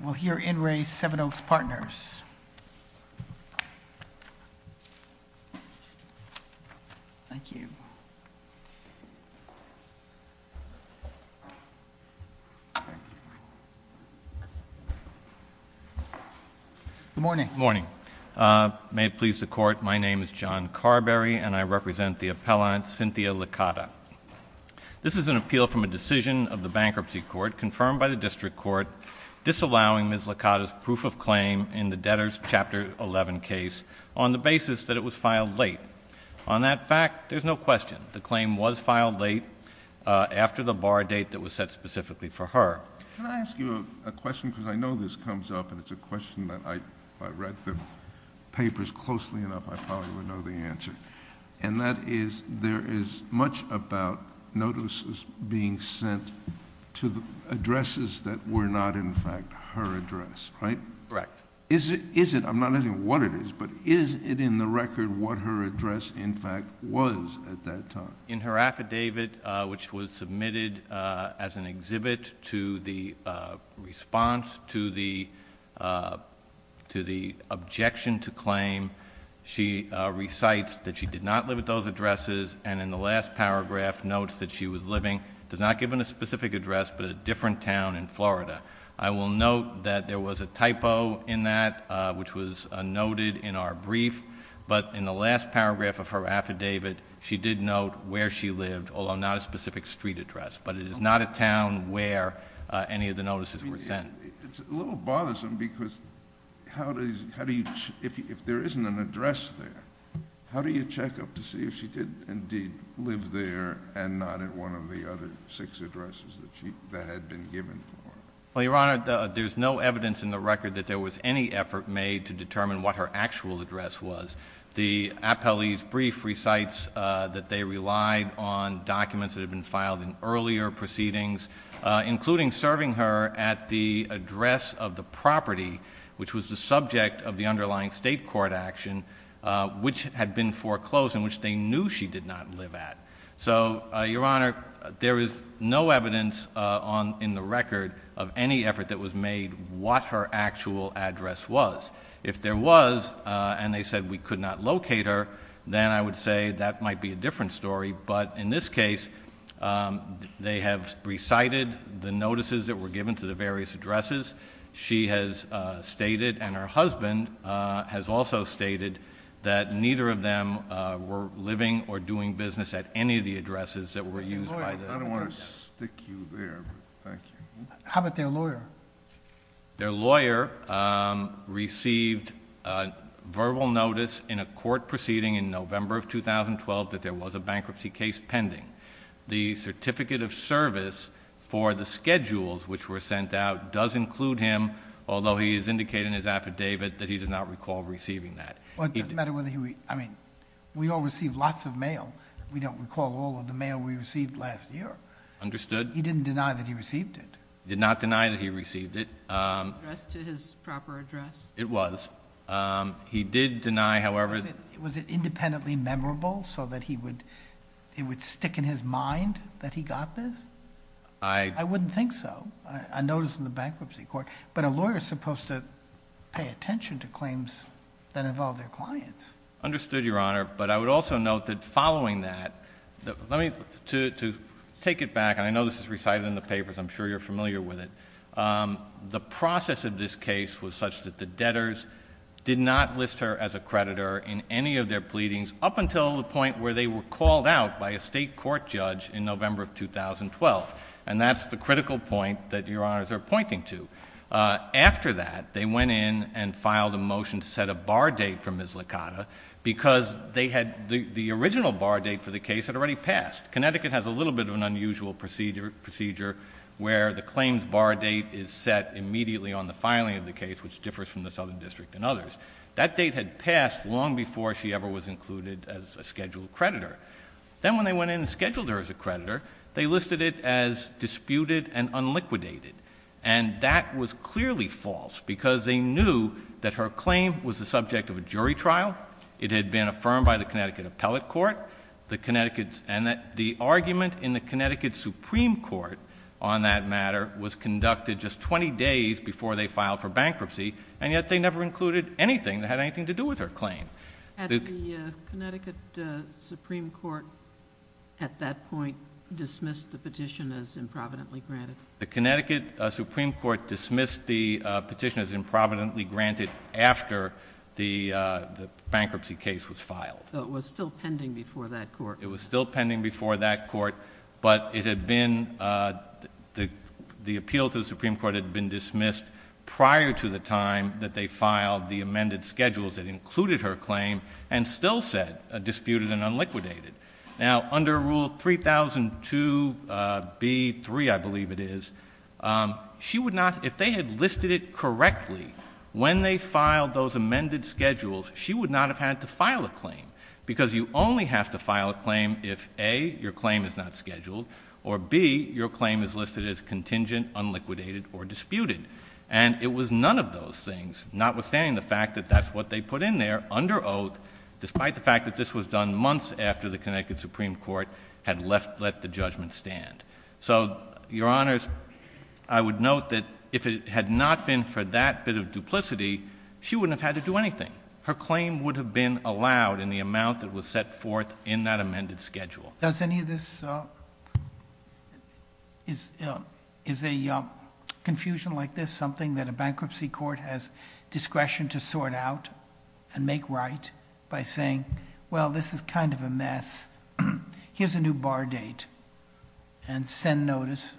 We'll hear In Re. Seven Oaks Partners. Thank you. Good morning. Good morning. May it please the Court, my name is John Carberry and I represent the appellant Cynthia Licata. This is an appeal from a decision of the Bankruptcy Court confirmed by the District Court disallowing Ms. Licata's proof of claim in the Debtors Chapter 11 case on the basis that it was filed late. On that fact, there's no question, the claim was filed late after the bar date that was set specifically for her. Can I ask you a question, because I know this comes up and it's a question that if I read the papers closely enough I probably would know the answer. And that is, there is much about notices being sent to addresses that were not in fact her address, right? Correct. Is it, I'm not asking what it is, but is it in the record what her address in fact was at that time? In her affidavit, which was submitted as an exhibit to the response to the objection to claim, she recites that she did not live at those addresses and in the last paragraph notes that she was living, does not give a specific address, but a different town in Florida. I will note that there was a typo in that, which was noted in our brief, but in the last paragraph of her affidavit she did note where she lived, although not a specific street address, but it is not a town where any of the notices were sent. It's a little bothersome because how do you, if there isn't an address there, how do you check up to see if she did indeed live there and not at one of the other six addresses that had been given to her? Well, Your Honor, there's no evidence in the record that there was any effort made to determine what her actual address was. The appellee's brief recites that they relied on documents that had been filed in earlier proceedings, including serving her at the address of the property, which was the subject of the underlying state court action, which had been foreclosed and which they knew she did not live at. So, Your Honor, there is no evidence in the record of any effort that was made what her actual address was. If there was and they said we could not locate her, then I would say that might be a different story, but in this case, they have recited the notices that were given to the various addresses she has stated and her husband has also stated that neither of them were living or doing business at any of the addresses that were used. I don't want to stick you there, but thank you. How about their lawyer? Their lawyer received verbal notice in a court proceeding in November of 2012 that there was a bankruptcy case pending. The certificate of service for the schedules which were sent out does include him, although he has indicated in his affidavit that he does not recall receiving that. Well, it doesn't matter whether he... I mean, we all received lots of mail. We don't recall all of the mail we received last year. Understood. He didn't deny that he received it. He did not deny that he received it. Addressed to his proper address. It was. He did deny, however... Was it independently memorable so that he would... it would stick in his mind that he got this? I... I wouldn't think so. I noticed in the bankruptcy court, but a lawyer is supposed to pay attention to claims that involve their clients. Understood, Your Honor, but I would also note that following that... Let me... to take it back, and I know this is recited in the papers. I'm sure you're familiar with it. The process of this case was such that the debtors did not list her as a creditor in any of their pleadings up until the point where they were called out by a state court judge in November of 2012, and that's the critical point that Your Honors are pointing to. After that, they went in and filed a motion to set a bar date for Ms. Licata because they had... the original bar date for the case had already passed. Connecticut has a little bit of an unusual procedure where the claims bar date is set immediately on the filing of the case, which differs from the Southern District and others. That date had passed long before she ever was included as a scheduled creditor. Then when they went in and scheduled her as a creditor, they listed it as disputed and unliquidated, and that was clearly false because they knew that her claim was the subject of a jury trial, it had been affirmed by the Connecticut Appellate Court, and that the argument in the Connecticut Supreme Court on that matter was conducted just 20 days before they filed for bankruptcy, and yet they never included anything that had anything to do with her claim. Had the Connecticut Supreme Court at that point dismissed the petition as improvidently granted? The Connecticut Supreme Court dismissed the petition as improvidently granted after the bankruptcy case was filed. So it was still pending before that court? It was still pending before that court, but it had been... the appeal to the Supreme Court had been dismissed prior to the time that they filed the amended schedules that included her claim and still said disputed and unliquidated. Now, under Rule 3002B3, I believe it is, she would not... if they had listed it correctly when they filed those amended schedules, she would not have had to file a claim because you only have to file a claim if, A, your claim is not scheduled, or B, your claim is listed as contingent, unliquidated, or disputed. And it was none of those things, notwithstanding the fact that that's what they put in there under oath, despite the fact that this was done months after the Connecticut Supreme Court had left... let the judgment stand. So, Your Honors, I would note that if it had not been for that bit of duplicity, she wouldn't have had to do anything. Her claim would have been allowed in the amount that was set forth in that amended schedule. Does any of this... Is a confusion like this something that a bankruptcy court has discretion to sort out and make right, by saying, well, this is kind of a mess, here's a new bar date, and send notice,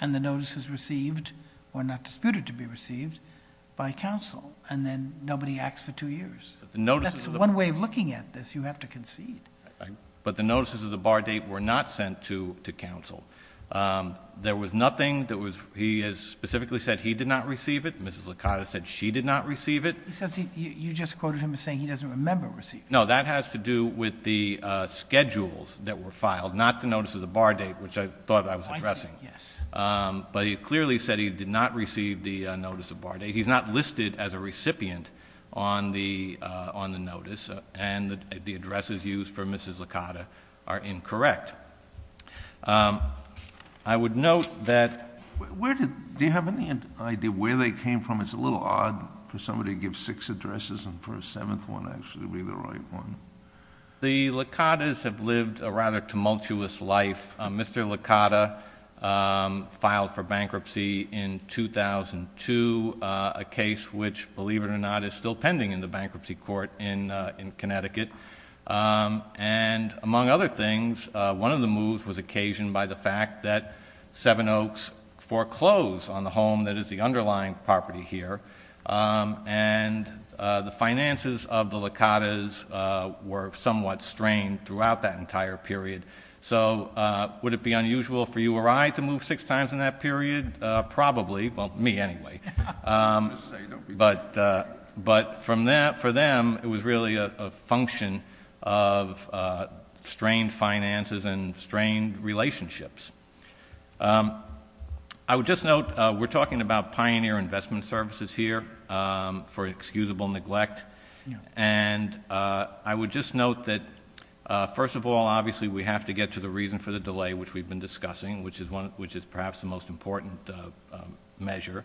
and the notice is received, or not disputed to be received, by counsel. And then nobody acts for two years. That's one way of looking at this. You have to concede. But the notices of the bar date were not sent to counsel. There was nothing that was... he has specifically said he did not receive it. Mrs. Licata said she did not receive it. He says he... you just quoted him as saying he doesn't remember receiving it. No, that has to do with the schedules that were filed, not the notice of the bar date, which I thought I was addressing. I see. Yes. But he clearly said he did not receive the notice of bar date. He's not listed as a recipient on the notice, and the addresses used for Mrs. Licata are incorrect. I would note that... Where did... do you have any idea where they came from? It's a little odd for somebody to give six addresses and for a seventh one to actually be the right one. The Licatas have lived a rather tumultuous life. Mr. Licata filed for bankruptcy in 2002, a case which, believe it or not, is still pending in the bankruptcy court in Connecticut. Among other things, one of the moves was occasioned by the fact that Seven Oaks foreclosed on the home that is the underlying property here. The finances of the Licatas were somewhat strained throughout that entire period. So, would it be unusual for you or I to move six times in that period? Probably. Well, me anyway. But for them, it was really a function of strained finances and strained relationships. I would just note, we're talking about pioneer investment services here for excusable neglect. And I would just note that, first of all, obviously we have to get to the reason for the delay, which we've been discussing, which is perhaps the most important measure.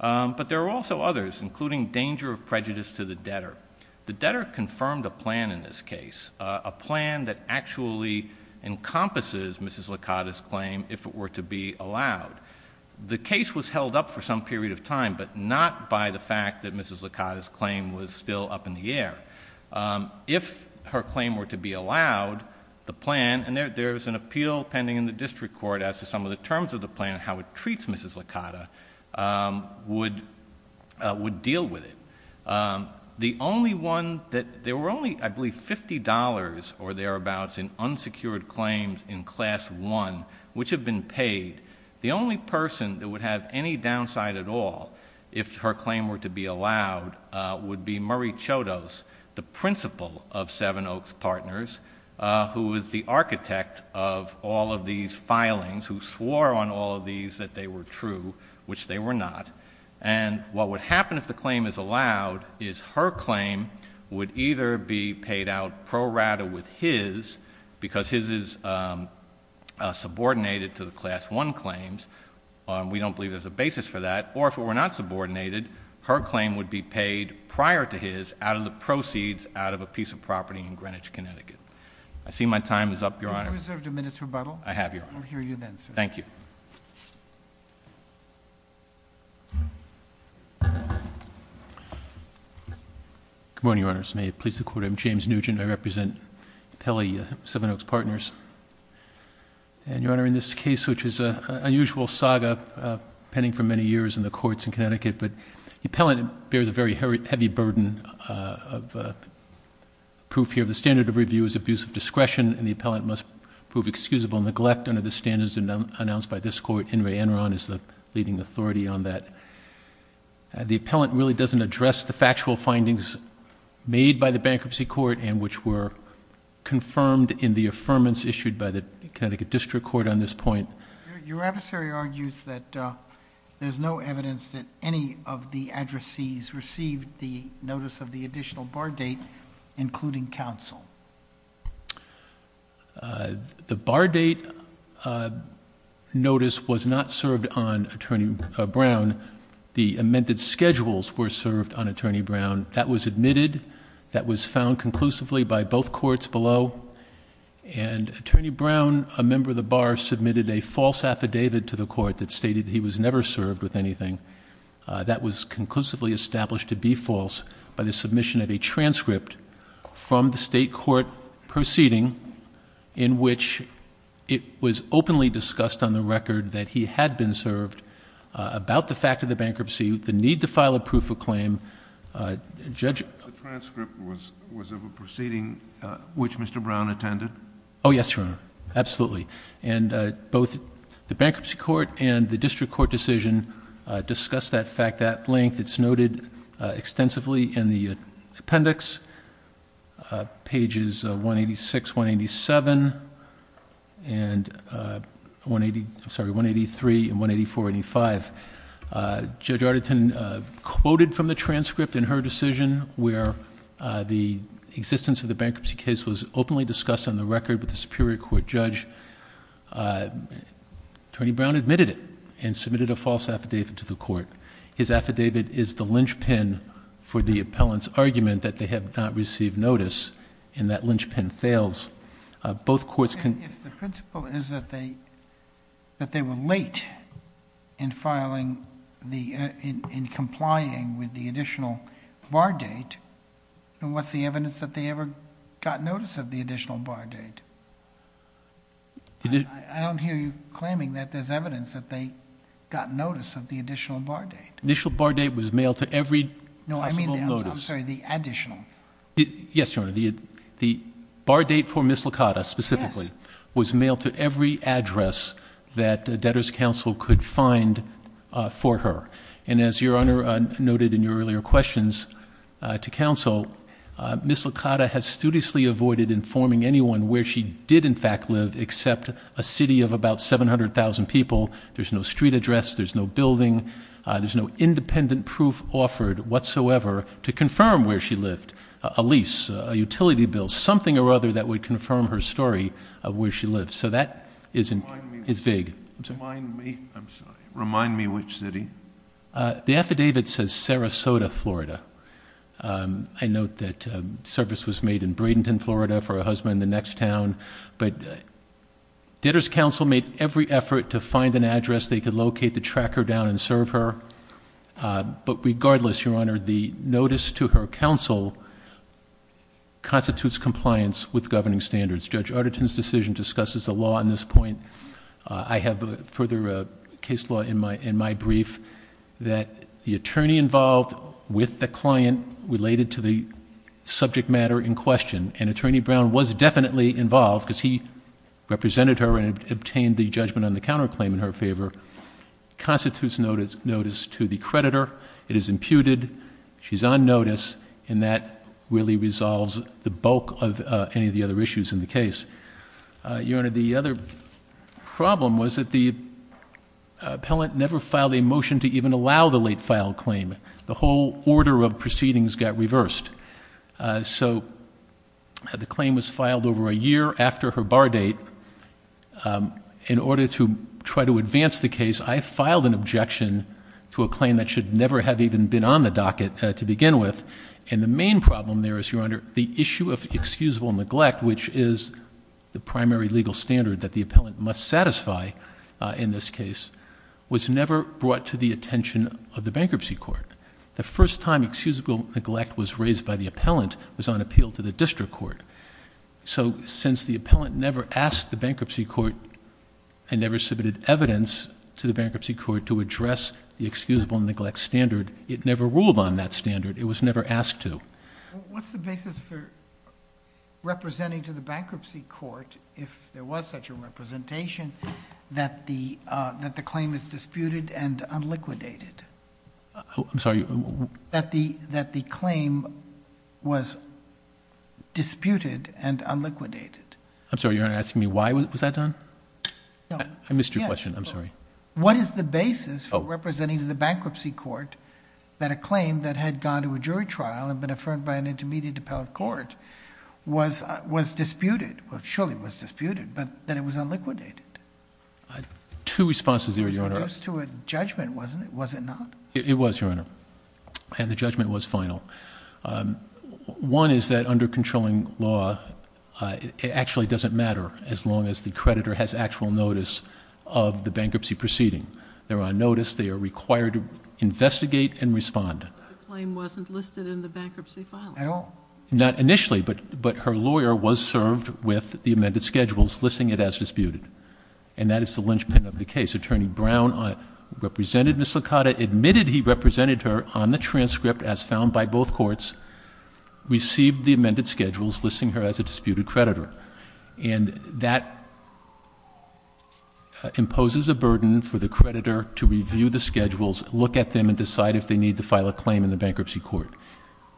But there are also others, including danger of prejudice to the debtor. The debtor confirmed a plan in this case, a plan that actually encompasses Mrs. Licata's claim if it were to be allowed. The case was held up for some period of time, but not by the fact that Mrs. Licata's claim was still up in the air. If her claim were to be allowed, the plan, and there's an appeal pending in the district court as to some of the terms of the plan, how it treats Mrs. Licata, would deal with it. The only one that there were only, I believe, $50 or thereabouts in unsecured claims in Class I, which have been paid. The only person that would have any downside at all, if her claim were to be allowed, would be Murray Chodos, the principal of Seven Oaks Partners, who is the architect of all of these filings, who swore on all of these that they were true, which they were not. What would happen if the claim is allowed is her claim would either be paid out pro rata with his, because his is subordinated to the Class I claims. We don't believe there's a basis for that. Or if it were not subordinated, her claim would be paid prior to his out of the proceeds out of a piece of property in Greenwich, Connecticut. I see my time is up, Your Honor. Have you reserved a minute's rebuttal? I have, Your Honor. We'll hear you then, sir. Thank you. Good morning, Your Honors. May it please the Court. I'm James Nugent. I represent Appellee Seven Oaks Partners. And, Your Honor, in this case, which is an unusual saga pending for many years in the courts in Connecticut, but the appellant bears a very heavy burden of proof here. The standard of review is abuse of discretion, and the appellant must prove excusable neglect under the standards announced by this Court. Henry Enron is the leading authority on that. The appellant really doesn't address the factual findings made by the bankruptcy court and which were confirmed in the affirmance issued by the Connecticut District Court on this point. Your adversary argues that there's no evidence that any of the addressees received the notice of the additional bar date, including counsel. The bar date notice was not served on Attorney Brown. The amended schedules were served on Attorney Brown. That was admitted. That was found conclusively by both courts below. And Attorney Brown, a member of the bar, submitted a false affidavit to the court that stated he was never served with anything. That was conclusively established to be false by the submission of a transcript from the state court proceeding in which it was openly discussed on the record that he had been served about the fact of the bankruptcy, the need to file a proof of claim. The transcript was of a proceeding which Mr. Brown attended? Oh, yes, Your Honor. Absolutely. And both the bankruptcy court and the district court decision discussed that fact at length. It's noted extensively in the appendix, pages 186, 187, and 183, and 184, and 185. Judge Arderton quoted from the transcript in her decision where the existence of the bankruptcy case was openly discussed on the record with the superior court judge. Attorney Brown admitted it and submitted a false affidavit to the court. His affidavit is the linchpin for the appellant's argument that they have not received notice and that linchpin fails. Both courts can- If the principle is that they were late in complying with the additional bar date, then what's the evidence that they ever got notice of the additional bar date? I don't hear you claiming that there's evidence that they got notice of the additional bar date. Initial bar date was mailed to every possible notice. No, I mean, I'm sorry, the additional. Yes, Your Honor. The bar date for Ms. Licata specifically was mailed to every address that a debtor's counsel could find for her. And as Your Honor noted in your earlier questions to counsel, Ms. Licata has studiously avoided informing anyone where she did in fact live except a city of about 700,000 people. There's no street address. There's no building. There's no independent proof offered whatsoever to confirm where she lived. A lease, a utility bill, something or other that would confirm her story of where she lived. So that is vague. Remind me, I'm sorry. Remind me which city. The affidavit says Sarasota, Florida. I note that service was made in Bradenton, Florida for a husband in the next town. But debtor's counsel made every effort to find an address they could locate to track her down and serve her. But regardless, Your Honor, the notice to her counsel constitutes compliance with governing standards. Judge Arderton's decision discusses the law in this point. I have further case law in my brief that the attorney involved with the client related to the subject matter in question. And Attorney Brown was definitely involved because he represented her and obtained the judgment on the counterclaim in her favor. Constitutes notice to the creditor. It is imputed. She's on notice. And that really resolves the bulk of any of the other issues in the case. Your Honor, the other problem was that the appellant never filed a motion to even allow the late file claim. The whole order of proceedings got reversed. So the claim was filed over a year after her bar date. In order to try to advance the case, I filed an objection to a claim that should never have even been on the docket to begin with. And the main problem there is, Your Honor, the issue of excusable neglect, which is the primary legal standard that the appellant must satisfy in this case, was never brought to the attention of the bankruptcy court. The first time excusable neglect was raised by the appellant was on appeal to the district court. So since the appellant never asked the bankruptcy court and never submitted evidence to the bankruptcy court to address the excusable neglect standard, it never ruled on that standard. It was never asked to. What's the basis for representing to the bankruptcy court, if there was such a representation, that the claim is disputed and unliquidated? I'm sorry. That the claim was disputed and unliquidated. I'm sorry, Your Honor, you're asking me why was that done? No. I missed your question. I'm sorry. What is the basis for representing to the bankruptcy court that a claim that had gone to a jury trial and been affirmed by an intermediate appellate court was disputed, or surely was disputed, but that it was unliquidated? Two responses there, Your Honor. It was introduced to a judgment, wasn't it? Was it not? It was, Your Honor, and the judgment was final. One is that under controlling law, it actually doesn't matter as long as the creditor has actual notice of the bankruptcy proceeding. They're on notice. They are required to investigate and respond. The claim wasn't listed in the bankruptcy filing? Not initially, but her lawyer was served with the amended schedules listing it as disputed, and that is the linchpin of the case. Attorney Brown represented Ms. Licata, admitted he represented her on the transcript as found by both courts, received the amended schedules listing her as a disputed creditor, and that imposes a burden for the creditor to review the schedules, look at them, and decide if they need to file a claim in the bankruptcy court.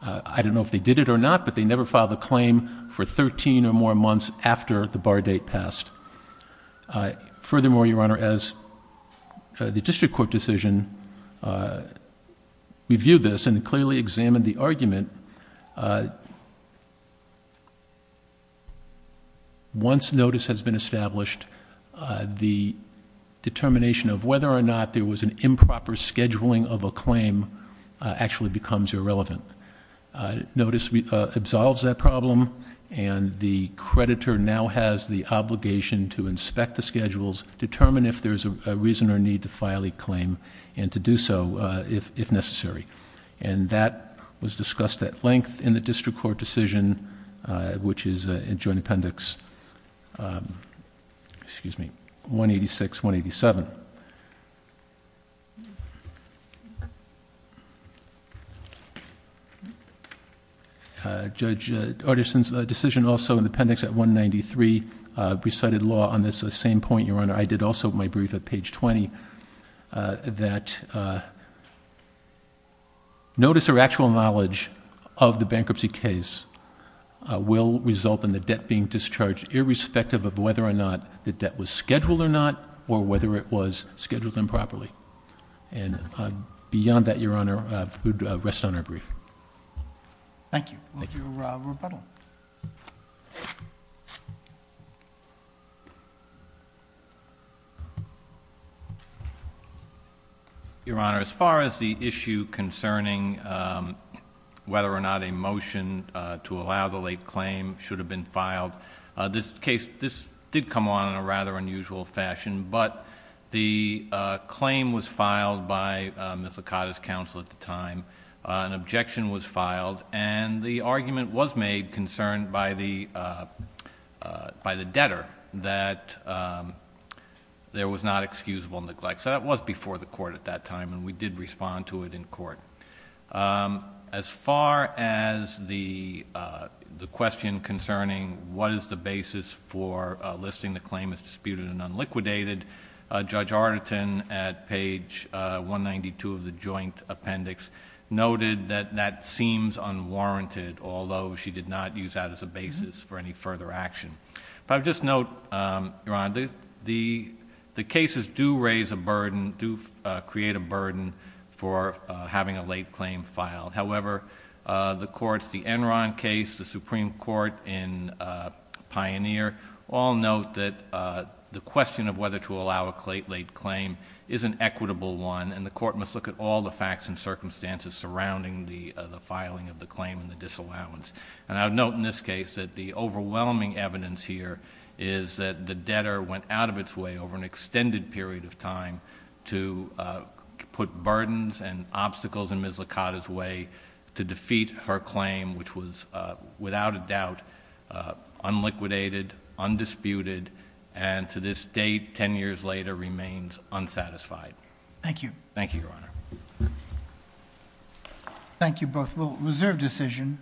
I don't know if they did it or not, but they never filed a claim for 13 or more months after the bar date passed. Furthermore, Your Honor, as the district court decision reviewed this and clearly examined the argument, once notice has been established, the determination of whether or not there was an improper scheduling of a claim actually becomes irrelevant. Notice absolves that problem, and the creditor now has the obligation to inspect the schedules, determine if there's a reason or need to file a claim, and to do so if necessary. And that was discussed at length in the district court decision, which is Joint Appendix 186, 187. Judge Artison's decision also in the appendix at 193 recited law on this same point, Your Honor. I did also my brief at page 20, that notice or actual knowledge of the bankruptcy case will result in the debt being discharged, irrespective of whether or not the debt was scheduled or not, or whether it was scheduled improperly. And beyond that, Your Honor, I would rest on our brief. Thank you for your rebuttal. Your Honor, as far as the issue concerning whether or not a motion to allow the late claim should have been filed, this case did come on in a rather unusual fashion. But the claim was filed by Ms. Licata's counsel at the time. An objection was filed, and the argument was made concerned by the debtor that there was not excusable neglect. So that was before the court at that time, and we did respond to it in court. As far as the question concerning what is the basis for listing the claim as disputed and unliquidated, Judge Artison, at page 192 of the joint appendix, noted that that seems unwarranted, although she did not use that as a basis for any further action. But I would just note, Your Honor, the cases do raise a burden, do create a burden for having a late claim filed. However, the courts, the Enron case, the Supreme Court in Pioneer, all note that the question of whether to allow a late claim is an equitable one, and the court must look at all the facts and circumstances surrounding the filing of the claim and the disallowance. And I would note in this case that the overwhelming evidence here is that the debtor went out of its way over an extended period of time to put burdens and obstacles in Ms. Licata's way to defeat her claim, which was, without a doubt, unliquidated, undisputed, and to this date, ten years later, remains unsatisfied. Thank you. Thank you, Your Honor. Thank you both. Well, reserve decision.